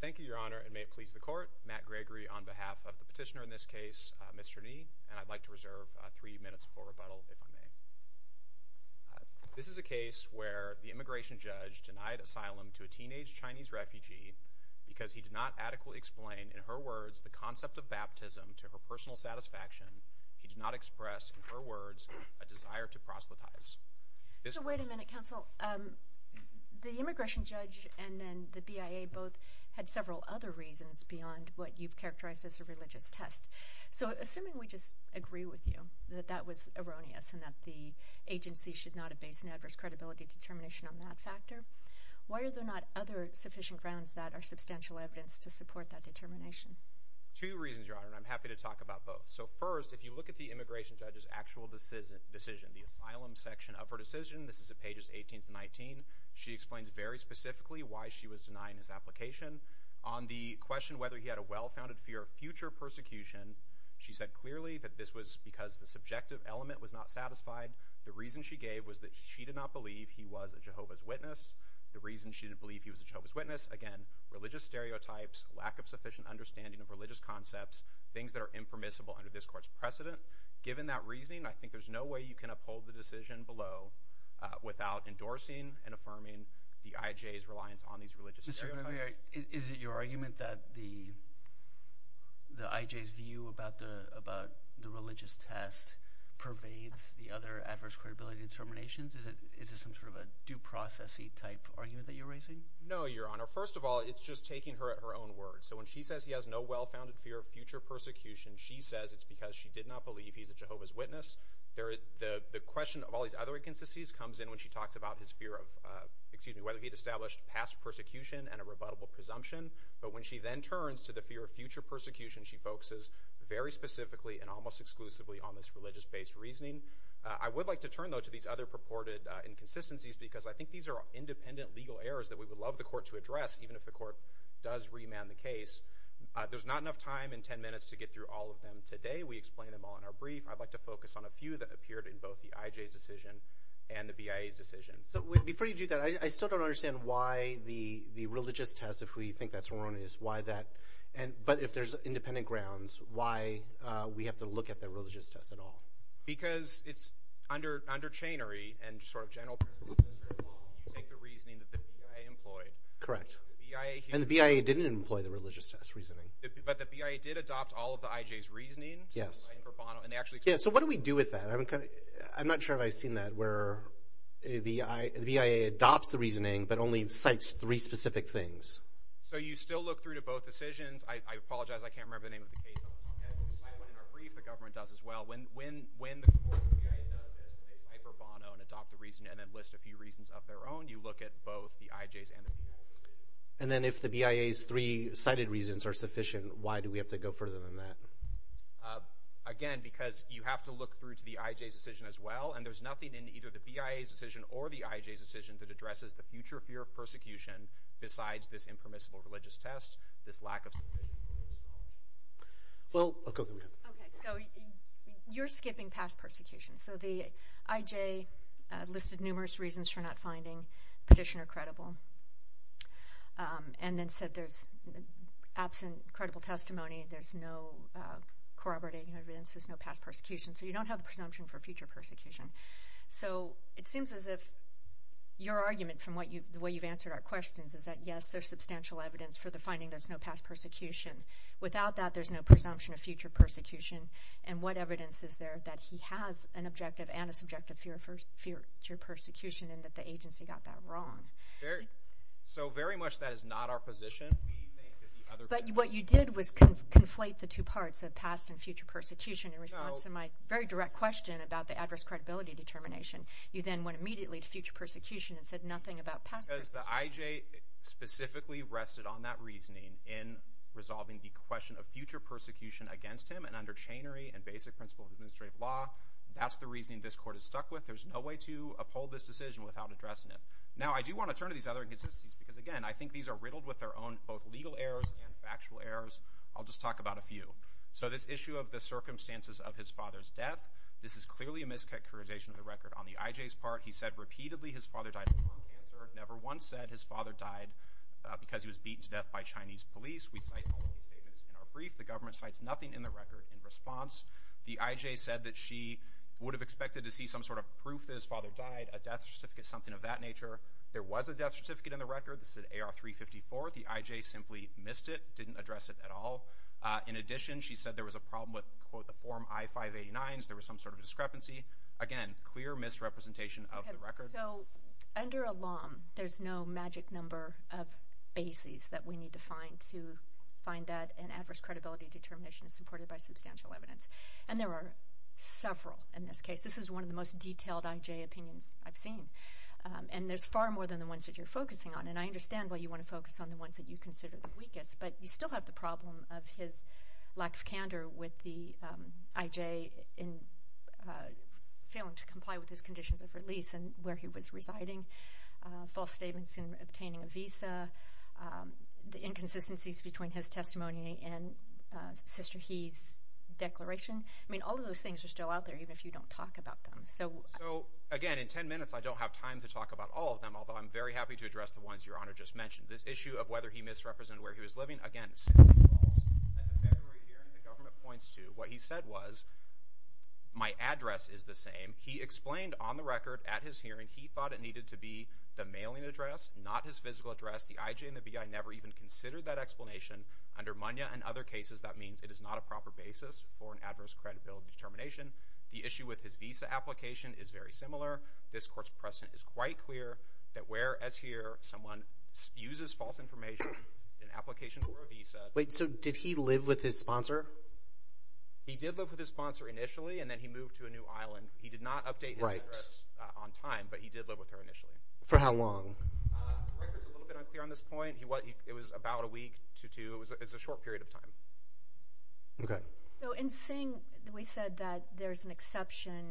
Thank you, Your Honor, and may it please the Court, Matt Gregory on behalf of the petitioner in this case, Mr. Ni, and I'd like to reserve three minutes for rebuttal, if I may. This is a case where the immigration judge denied asylum to a teenage Chinese refugee because he did not adequately explain, in her words, the concept of baptism to her personal satisfaction. He did not express, in her words, a desire to proselytize. So wait a minute, counsel. The immigration judge and then the BIA both had several other reasons beyond what you've characterized as a religious test. So assuming we just agree with you that that was erroneous and that the agency should not have based an adverse credibility determination on that factor, why are there not other sufficient grounds that are substantial evidence to support that determination? Matt Gregory Two reasons, Your Honor, and I'm happy to talk about both. So first, if you look at the immigration judge's actual decision, the asylum section of her decision, this is at pages 18-19. She explains very specifically why she was denying his application. On the question whether he had a well-founded fear of future persecution, she said clearly that this was because the subjective element was not satisfied. The reason she gave was that she did not believe he was a Jehovah's Witness. The reason she didn't believe he was a Jehovah's Witness, again, religious stereotypes, lack of sufficient understanding of religious concepts, things that are impermissible under this Court's precedent. Given that reasoning, I think there's no way you can uphold the decision below without endorsing and affirming the IJ's reliance on these religious stereotypes. Judge Goldberg Mr. Gregory, is it your argument that the IJ's view about the religious test pervades the other adverse credibility determinations? Is this some sort of a due process-y type argument that you're raising? Matt Gregory No, Your Honor. First of all, it's just taking her at her own word. So when she says he has no well-founded fear of future persecution, she says it's because she did not believe he's a Jehovah's Witness. The question of all these other inconsistencies comes in when she talks about his fear of – excuse me, whether he had established past persecution and a rebuttable presumption. But when she then turns to the fear of future persecution, she focuses very specifically and almost exclusively on this religious-based reasoning. I would like to turn, though, to these other purported inconsistencies because I think these are independent legal errors that we would love the court to address, even if the court does remand the case. There's not enough time in 10 minutes to get through all of them today. We explained them all in our brief. I'd like to focus on a few that appeared in both the IJ's decision and the BIA's decision. Judge Goldberg So before you do that, I still don't understand why the religious test, if we think that's erroneous, why that – but if there's independent grounds, why we have to look at the religious test at all? Because it's under chainery and sort of general – you take the reasoning that the BIA employed. Judge Goldberg Correct. And the BIA didn't employ the religious test reasoning. Judge Goldberg But the BIA did adopt all of the IJ's reasoning. Judge Goldberg Yes. Judge Goldberg And they actually – Judge Goldberg Yeah, so what do we do with that? I'm not sure if I've seen that, where the BIA adopts the reasoning but only cites three specific things. Judge Goldberg So you still look through to both decisions. I apologize, I can't remember the name of the case. I'll have to decide what, in our brief, the government does as well. When the BIA does this, they cipher Bono and adopt the reasoning and then list a few reasons of their own, you look at both the IJ's and the BIA's. Judge Goldberg And then if the BIA's three cited reasons are sufficient, why do we have to go further than that? Judge Goldberg Again, because you have to look through to the IJ's decision as well, and there's nothing in either the BIA's decision or the IJ's decision that addresses the future fear of persecution besides this impermissible religious test, this lack of – Judge Goldberg Well, I'll go through that. Judge Bielanski Okay, so you're skipping past persecution. So the IJ listed numerous reasons for not finding petitioner credible, and then said there's absent credible testimony, there's no corroborating evidence, there's no past persecution, so you don't have the presumption for future persecution. So it seems as if your argument from the way you've answered our questions is that yes, there's substantial evidence for the finding there's no past persecution. Without that, there's no presumption of future persecution, and what evidence is there that he has an objective and a subjective fear of future persecution and that the agency got that wrong? Judge Goldberg So very much that is not our position. We think that the other – Judge Bielanski But what you did was conflate the two parts, the past and future persecution, in response to my very direct question about the adverse credibility determination. You then went immediately to future persecution and said nothing about past persecution. Judge Goldberg Because the IJ specifically rested on that reasoning in resolving the question of future persecution against him, and under chainery and basic principles of administrative law, that's the reasoning this Court has stuck with. There's no way to uphold this decision without addressing it. Now, I do want to turn to these other inconsistencies because, again, I think these are riddled with their own both legal errors and factual errors. I'll just talk about a few. So this issue of the circumstances of his father's death, this is clearly a mischaracterization of the record on the IJ's part. He said repeatedly his father died of lung cancer, never once said his father died because he was beaten to death by Chinese police. We cite all of these statements in our brief. The government cites nothing in the record in response. The IJ said that she would have expected to see some sort of proof that his father died, a death certificate, something of that nature. There was a death certificate in the record that said AR-354. The IJ simply missed it, didn't address it at all. In addition, she said there was a problem with, quote, the Form I-589s, there was some sort of discrepancy. Again, clear misrepresentation of the record. So under a law, there's no magic number of bases that we need to find to find that an adverse credibility determination is supported by substantial evidence, and there are several in this case. This is one of the most detailed IJ opinions I've seen, and there's far more than the ones that you're focusing on, and I understand why you want to focus on the ones that you consider the weakest, but you still have the problem of his lack of candor with the IJ in failing to comply with his conditions of release and where he was residing, false statements in obtaining a visa, the inconsistencies between his testimony and Sister He's declaration. I mean, all of those things are still out there, even if you don't talk about them. So again, in 10 minutes, I don't have time to talk about all of them, although I'm very happy to address the ones Your Honor just mentioned. This issue of whether he misrepresented where he was living, again, simply falls. At the February hearing, the government points to what he said was, my address is the same. He explained on the record at his hearing, he thought it needed to be the mailing address, not his physical address. The IJ and the BI never even considered that explanation. Under Manya and other cases, that means it is not a proper basis for an adverse credibility determination. The issue with his visa application is very similar. This Court's precedent is quite clear that where, as here, someone uses false information Wait, so did he live with his sponsor? He did live with his sponsor initially, and then he moved to a new island. He did not update his address on time, but he did live with her initially. For how long? The record's a little bit unclear on this point. It was about a week to two. It was a short period of time. Okay. So in Singh, we said that there's an exception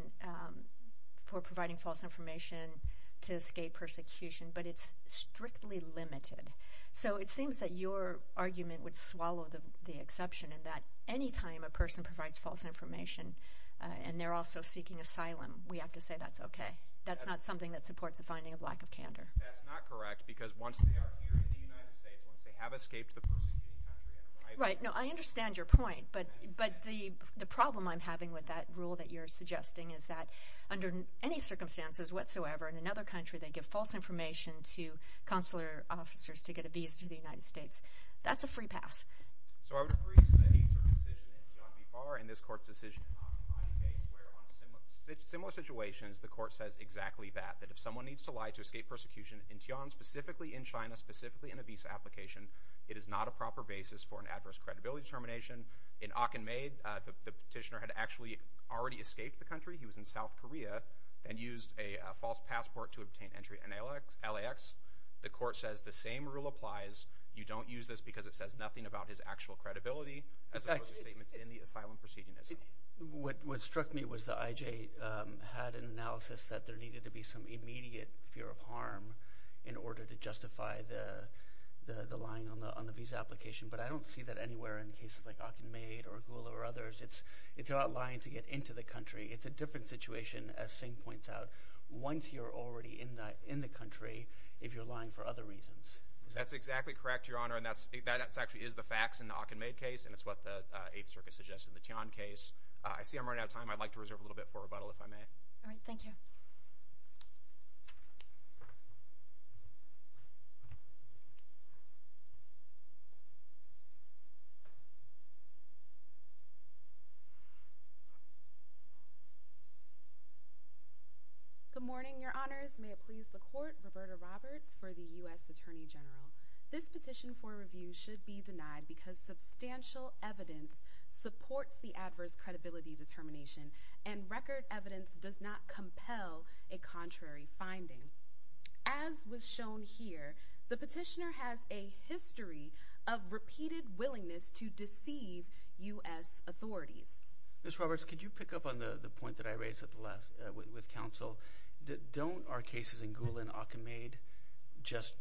for providing false information to escape persecution, but it's strictly limited. So it seems that your argument would swallow the exception, and that any time a person provides false information, and they're also seeking asylum, we have to say that's okay. That's not something that supports a finding of lack of candor. That's not correct, because once they are here in the United States, once they have escaped the persecution country and arrived there Right. No, I understand your point, but the problem I'm having with that rule that you're suggesting is that under any circumstances whatsoever, in another country, they give false information to consular officers to get a visa to the United States. That's a free pass. So I would agree to any sort of decision in Tiananmen Square and this court's decision on Taipei where on similar situations, the court says exactly that, that if someone needs to lie to escape persecution in Tiananmen, specifically in China, specifically in a visa application, it is not a proper basis for an adverse credibility determination. In Akinme, the petitioner had actually already escaped the country. He was in South Korea and used a false passport to obtain entry in LAX. The court says the same rule applies. You don't use this because it says nothing about his actual credibility as opposed to statements in the asylum proceedings. What struck me was the IJ had an analysis that there needed to be some immediate fear of harm in order to justify the lying on the visa application, but I don't see that anywhere in cases like Akinme or Gula or others. It's about lying to get into the country. It's a different situation, as Singh points out, once you're already in the country, if you're lying for other reasons. That's exactly correct, Your Honor, and that actually is the facts in the Akinme case, and it's what the Eighth Circuit suggested, the Tian case. I see I'm running out of time. I'd like to reserve a little bit for rebuttal, if I may. All right. Thank you. Good morning, Your Honors. May it please the Court, Roberta Roberts for the U.S. Attorney General. This petition for review should be denied because substantial evidence supports the adverse credibility determination, and record evidence does not compel a contrary finding. As was shown here, the petitioner has a history of repeated willingness to deceive U.S. authorities. Ms. Roberts, could you pick up on the point that I raised with counsel? Don't our cases in Gula and Akinme just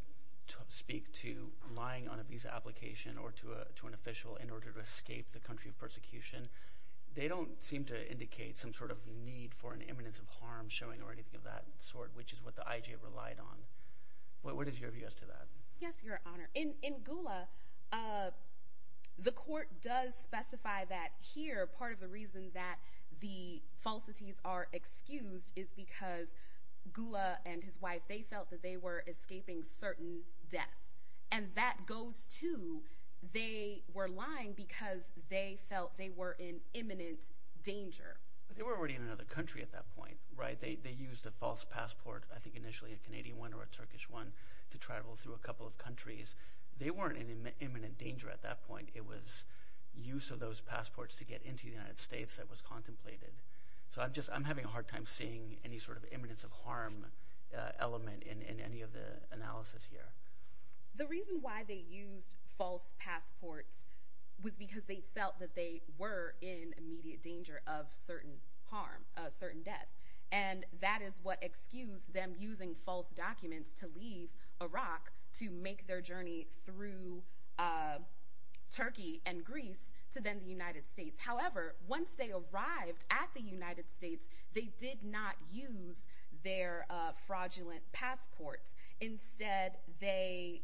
speak to lying on a visa application or to an official in order to escape the country of persecution? They don't seem to indicate some sort of need for an eminence of harm showing or anything of that sort, which is what the IJ relied on. What is your view as to that? Yes, Your Honor. In Gula, the Court does specify that here part of the reason that the falsities are excused is because Gula and his wife, they felt that they were escaping certain death. And that goes to they were lying because they felt they were in imminent danger. But they were already in another country at that point, right? They used a false passport, I think initially a Canadian one or a Turkish one, to travel through a couple of countries. They weren't in imminent danger at that point. It was use of those passports to get into the United States that was contemplated. So I'm just – I'm having a hard time seeing any sort of eminence of harm element in any of the analysis here. The reason why they used false passports was because they felt that they were in immediate danger of certain harm, certain death. And that is what excused them using false documents to leave Iraq to make their journey through Turkey and Greece to then the United States. However, once they arrived at the United States, they did not use their fraudulent passports. Instead, they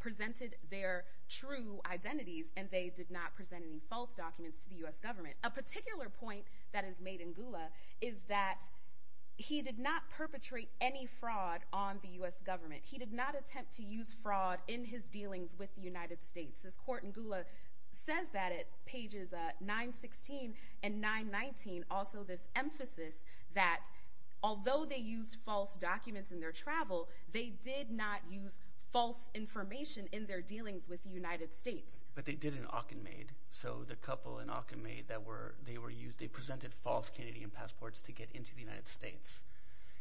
presented their true identities and they did not present any false documents to the U.S. government. And a particular point that is made in Gula is that he did not perpetrate any fraud on the U.S. government. He did not attempt to use fraud in his dealings with the United States. This court in Gula says that at pages 916 and 919, also this emphasis that although they used false documents in their travel, they did not use false information in their dealings with the United States. But they did in Akinmaid. So the couple in Akinmaid that were – they presented false Canadian passports to get into the United States.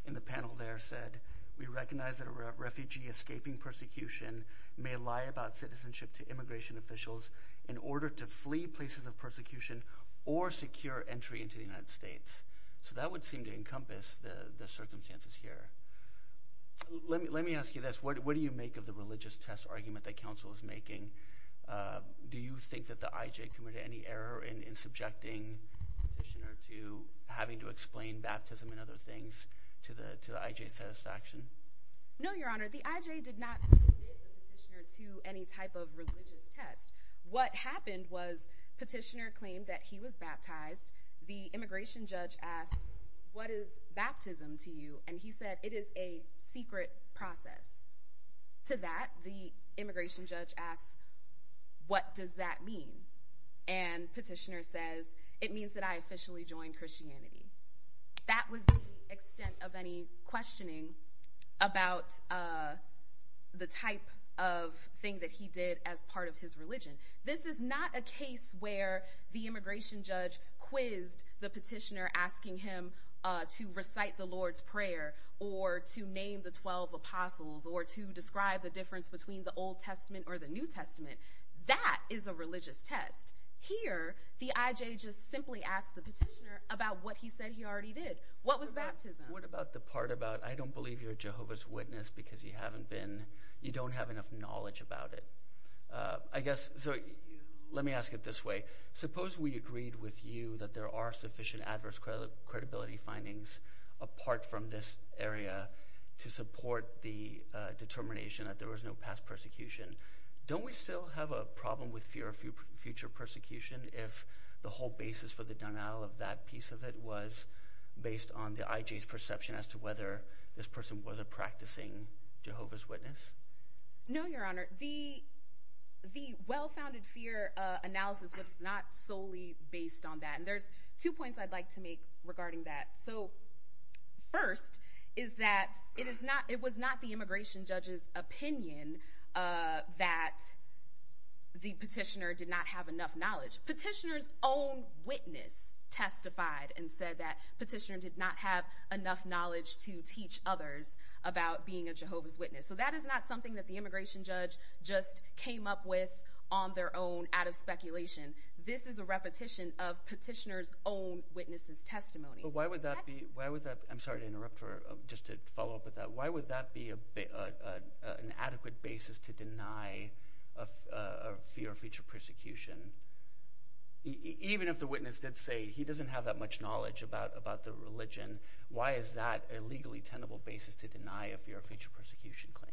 And the panel there said, we recognize that a refugee escaping persecution may lie about citizenship to immigration officials in order to flee places of persecution or secure entry into the United States. So that would seem to encompass the circumstances here. Let me ask you this. What do you make of the religious test argument that counsel is making? Do you think that the IJ committed any error in subjecting petitioner to having to explain baptism and other things to the IJ's satisfaction? No, Your Honor. The IJ did not subject the petitioner to any type of religious test. What happened was petitioner claimed that he was baptized. The immigration judge asked, what is baptism to you? And he said, it is a secret process. To that, the immigration judge asked, what does that mean? And petitioner says, it means that I officially joined Christianity. That was the extent of any questioning about the type of thing that he did as part of his religion. This is not a case where the immigration judge quizzed the petitioner asking him to recite the Lord's Prayer or to name the 12 apostles or to describe the difference between the Old Testament or the New Testament. That is a religious test. Here, the IJ just simply asked the petitioner about what he said he already did. What was baptism? What about the part about I don't believe you're a Jehovah's Witness because you haven't been – you don't have enough knowledge about it? I guess – so let me ask it this way. Suppose we agreed with you that there are sufficient adverse credibility findings apart from this area to support the determination that there was no past persecution. Don't we still have a problem with fear of future persecution if the whole basis for the denial of that piece of it was based on the IJ's perception as to whether this person was a practicing Jehovah's Witness? No, Your Honor. The well-founded fear analysis was not solely based on that. There's two points I'd like to make regarding that. First is that it was not the immigration judge's opinion that the petitioner did not have enough knowledge. Petitioner's own witness testified and said that petitioner did not have enough knowledge to teach others about being a Jehovah's Witness. So that is not something that the immigration judge just came up with on their own out of speculation. This is a repetition of petitioner's own witness's testimony. But why would that be – I'm sorry to interrupt just to follow up with that. Why would that be an adequate basis to deny a fear of future persecution? Even if the witness did say he doesn't have that much knowledge about the religion, why is that a legally tenable basis to deny a fear of future persecution claim?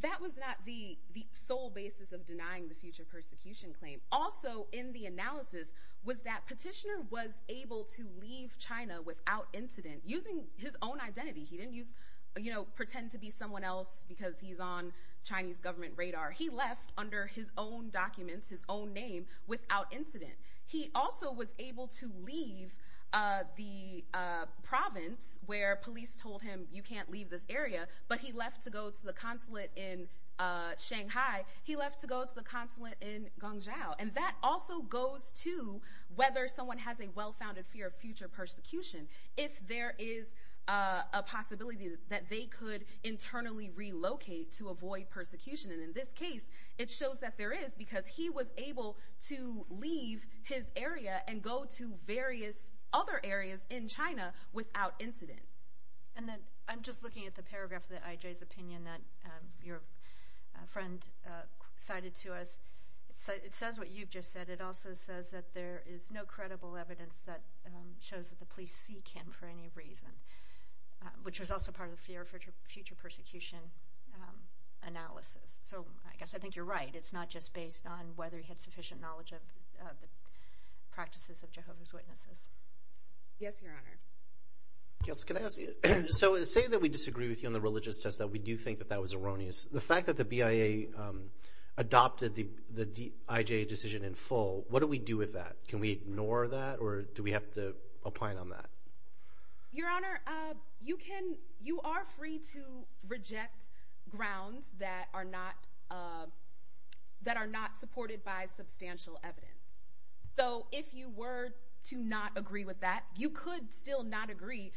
That was not the sole basis of denying the future persecution claim. Also in the analysis was that petitioner was able to leave China without incident using his own identity. He didn't pretend to be someone else because he's on Chinese government radar. He left under his own documents, his own name, without incident. He also was able to leave the province where police told him you can't leave this area, but he left to go to the consulate in Shanghai. He left to go to the consulate in Guangzhou. And that also goes to whether someone has a well-founded fear of future persecution. If there is a possibility that they could internally relocate to avoid persecution. In this case, it shows that there is because he was able to leave his area and go to various other areas in China without incident. I'm just looking at the paragraph of the IJ's opinion that your friend cited to us. It says what you've just said. It also says that there is no credible evidence that shows that the police seek him for any reason, which was also part of the fear of future persecution analysis. So I guess I think you're right. It's not just based on whether he had sufficient knowledge of the practices of Jehovah's Witnesses. Yes, Your Honor. So say that we disagree with you on the religious test, that we do think that that was erroneous. The fact that the BIA adopted the IJ decision in full, what do we do with that? Can we ignore that or do we have to opine on that? Your Honor, you are free to reject grounds that are not supported by substantial evidence. So if you were to not agree with that, you could still not agree,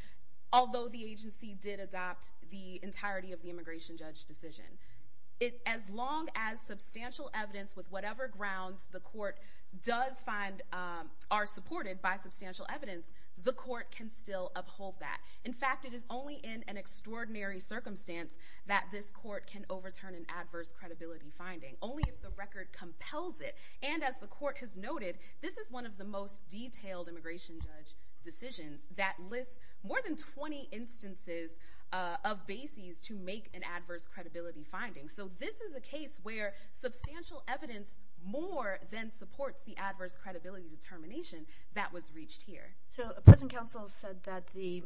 although the agency did adopt the entirety of the immigration judge decision. As long as substantial evidence with whatever grounds the court does find are supported by substantial evidence, the court can still uphold that. In fact, it is only in an extraordinary circumstance that this court can overturn an adverse credibility finding, only if the record compels it. And as the court has noted, this is one of the most detailed immigration judge decisions that lists more than 20 instances of bases to make an adverse credibility finding. So this is a case where substantial evidence more than supports the adverse credibility determination that was reached here. So a present counsel said that the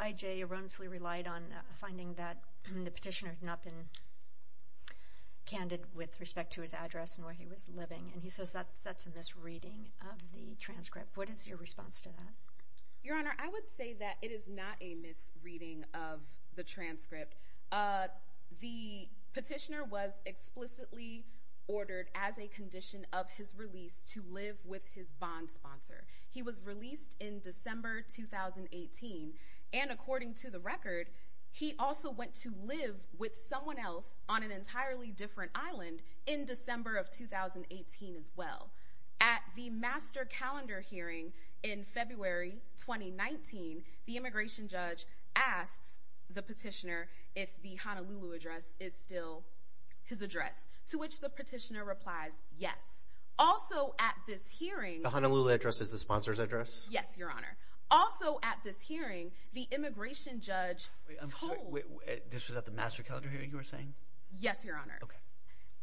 IJ erroneously relied on a finding that the petitioner had not been candid with respect to his address and where he was living, and he says that's a misreading of the transcript. What is your response to that? Your Honor, I would say that it is not a misreading of the transcript. The petitioner was explicitly ordered as a condition of his release to live with his bond sponsor. He was released in December 2018, and according to the record, he also went to live with someone else on an entirely different island in December of 2018 as well. At the master calendar hearing in February 2019, the immigration judge asked the petitioner if the Honolulu address is still his address, to which the petitioner replies yes. Also at this hearing— The Honolulu address is the sponsor's address? Yes, Your Honor. Also at this hearing, the immigration judge told— Wait, this was at the master calendar hearing you were saying? Yes, Your Honor. Okay.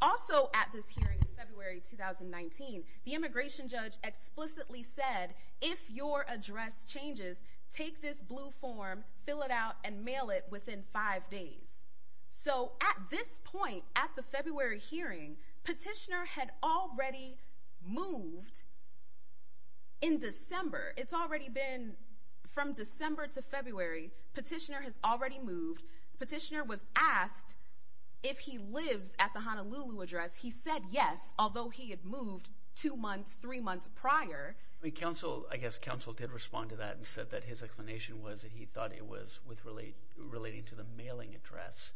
Also at this hearing in February 2019, the immigration judge explicitly said, if your address changes, take this blue form, fill it out, and mail it within five days. So at this point at the February hearing, petitioner had already moved in December. It's already been from December to February. Petitioner has already moved. Petitioner was asked if he lives at the Honolulu address. He said yes, although he had moved two months, three months prior. I guess counsel did respond to that and said that his explanation was that he thought it was relating to the mailing address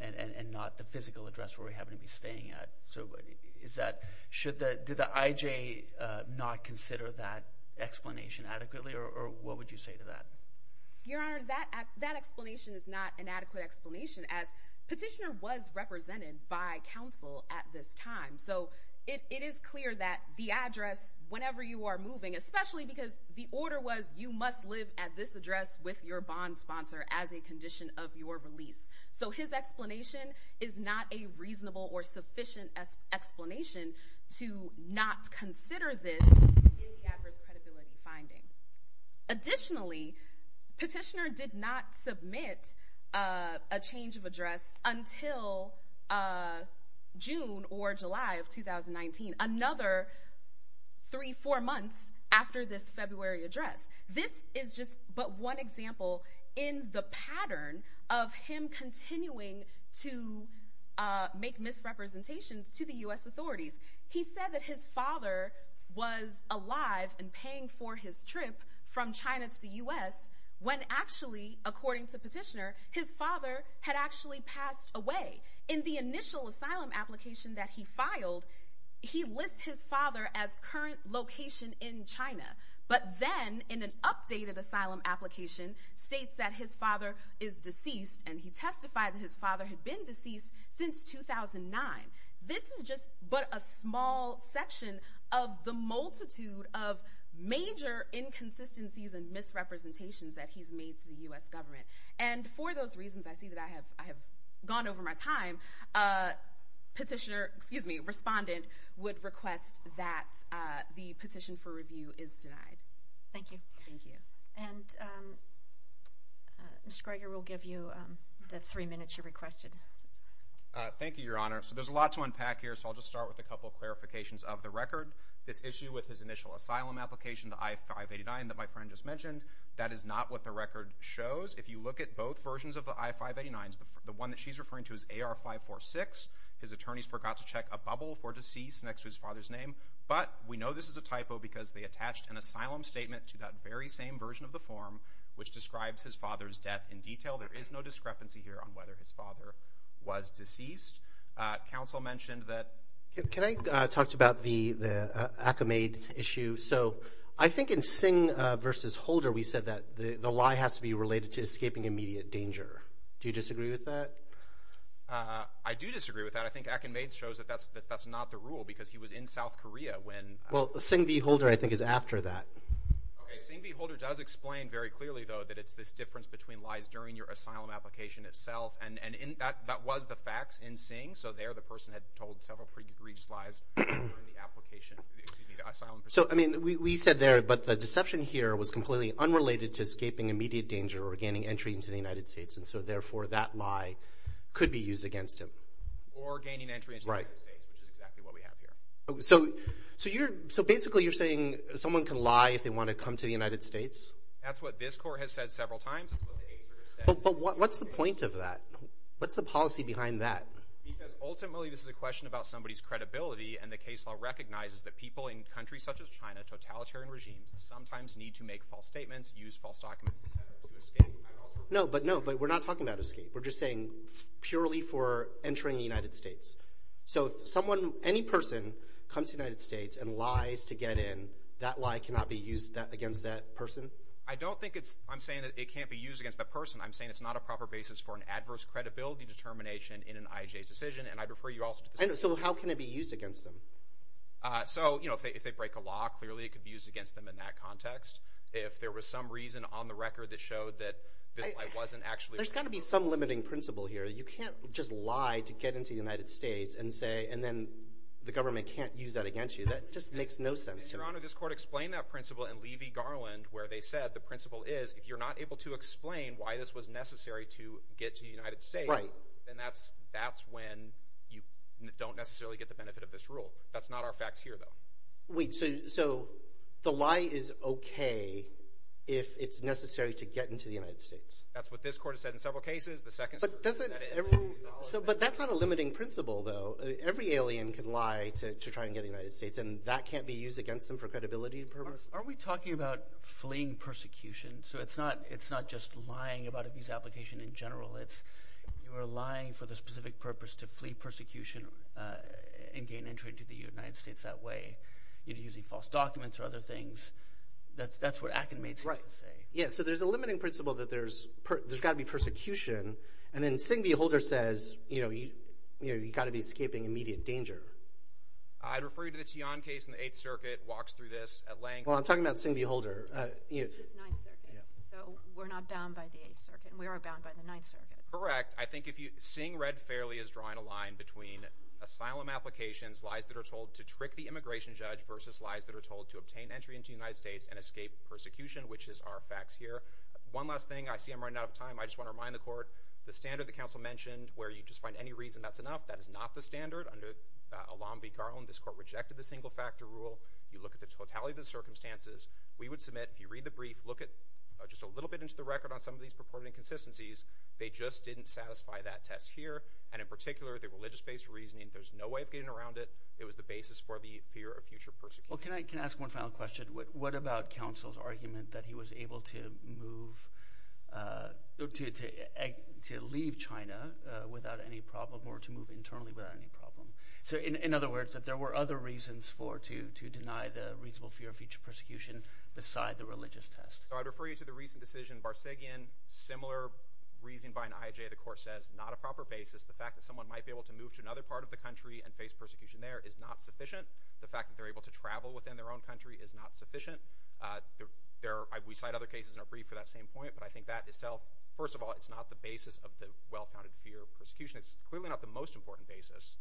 and not the physical address where he happened to be staying at. Did the IJ not consider that explanation adequately, or what would you say to that? Your Honor, that explanation is not an adequate explanation, as petitioner was represented by counsel at this time. So it is clear that the address, whenever you are moving— especially because the order was you must live at this address with your bond sponsor as a condition of your release. So his explanation is not a reasonable or sufficient explanation to not consider this in the adverse credibility finding. Additionally, petitioner did not submit a change of address until June or July of 2019, another three, four months after this February address. This is just but one example in the pattern of him continuing to make misrepresentations to the U.S. authorities. He said that his father was alive and paying for his trip from China to the U.S. when actually, according to petitioner, his father had actually passed away. In the initial asylum application that he filed, he lists his father as current location in China. But then, in an updated asylum application, states that his father is deceased, and he testified that his father had been deceased since 2009. This is just but a small section of the multitude of major inconsistencies and misrepresentations that he's made to the U.S. government. And for those reasons, I see that I have gone over my time. Petitioner—excuse me, respondent would request that the petition for review is denied. Thank you. Thank you. And Mr. Greger, we'll give you the three minutes you requested. Thank you, Your Honor. So there's a lot to unpack here, so I'll just start with a couple of clarifications of the record. This issue with his initial asylum application, the I-589 that my friend just mentioned, that is not what the record shows. If you look at both versions of the I-589s, the one that she's referring to is AR-546. His attorneys forgot to check a bubble for deceased next to his father's name. But we know this is a typo because they attached an asylum statement to that very same version of the form, which describes his father's death in detail. There is no discrepancy here on whether his father was deceased. Counsel mentioned that— Can I talk about the Akinmaid issue? So I think in Sing v. Holder, we said that the lie has to be related to escaping immediate danger. Do you disagree with that? I do disagree with that. I think Akinmaid shows that that's not the rule because he was in South Korea when— Well, Sing v. Holder, I think, is after that. Okay, Sing v. Holder does explain very clearly, though, that it's this difference between lies during your asylum application itself. And that was the facts in Sing. So there the person had told several pretty egregious lies during the application—excuse me, the asylum. So, I mean, we said there, but the deception here was completely unrelated to escaping immediate danger or gaining entry into the United States. And so, therefore, that lie could be used against him. Or gaining entry into the United States, which is exactly what we have here. So, basically, you're saying someone can lie if they want to come to the United States? That's what this court has said several times. It's what the HRSA— But what's the point of that? What's the policy behind that? Because, ultimately, this is a question about somebody's credibility, and the case law recognizes that people in countries such as China, totalitarian regimes, sometimes need to make false statements, use false documents, et cetera, to escape. No, but no, we're not talking about escape. We're just saying purely for entering the United States. So, if someone, any person, comes to the United States and lies to get in, that lie cannot be used against that person? I don't think it's—I'm saying that it can't be used against that person. I'm saying it's not a proper basis for an adverse credibility determination in an IJA's decision, and I'd refer you also to the— So, how can it be used against them? So, you know, if they break a law, clearly it could be used against them in that context. If there was some reason on the record that showed that this lie wasn't actually— There's got to be some limiting principle here. You can't just lie to get into the United States and say— and then the government can't use that against you. That just makes no sense to me. Your Honor, this court explained that principle in Levy-Garland where they said the principle is if you're not able to explain why this was necessary to get to the United States, then that's when you don't necessarily get the benefit of this rule. That's not our facts here, though. Wait, so the lie is okay if it's necessary to get into the United States? That's what this court has said in several cases. But that's not a limiting principle, though. Every alien can lie to try and get to the United States, and that can't be used against them for credibility and purpose? Are we talking about fleeing persecution? So it's not just lying about a visa application in general. You're lying for the specific purpose to flee persecution and gain entry into the United States that way, using false documents or other things. That's what Akin made sense to say. Yeah, so there's a limiting principle that there's got to be persecution, and then Singh v. Holder says you've got to be escaping immediate danger. I'd refer you to the Tian case in the Eighth Circuit, walks through this at length. Well, I'm talking about Singh v. Holder. It's the Ninth Circuit, so we're not bound by the Eighth Circuit, and we are bound by the Ninth Circuit. Correct. I think Singh read fairly as drawing a line between asylum applications, lies that are told to trick the immigration judge, versus lies that are told to obtain entry into the United States and escape persecution, which is our facts here. One last thing. I see I'm running out of time. I just want to remind the court the standard the counsel mentioned where you just find any reason that's enough, that is not the standard. Under Olam v. Garland, this court rejected the single-factor rule. You look at the totality of the circumstances. We would submit, if you read the brief, look just a little bit into the record on some of these purported inconsistencies. They just didn't satisfy that test here, and in particular, the religious-based reasoning, there's no way of getting around it. It was the basis for the fear of future persecution. Well, can I ask one final question? What about counsel's argument that he was able to move – to leave China without any problem or to move internally without any problem? In other words, that there were other reasons to deny the reasonable fear of future persecution beside the religious test. I'd refer you to the recent decision, Barsegian, similar reasoning by an IJ the court says, not a proper basis. The fact that someone might be able to move to another part of the country and face persecution there is not sufficient. The fact that they're able to travel within their own country is not sufficient. We cite other cases in our brief for that same point, but I think that itself, first of all, it's not the basis of the well-founded fear of persecution. It's clearly not the most important basis,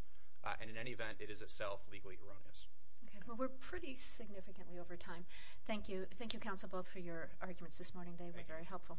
and in any event, it is itself legally erroneous. Okay. Well, we're pretty significantly over time. Thank you. Thank you, counsel, both, for your arguments this morning. They were very helpful.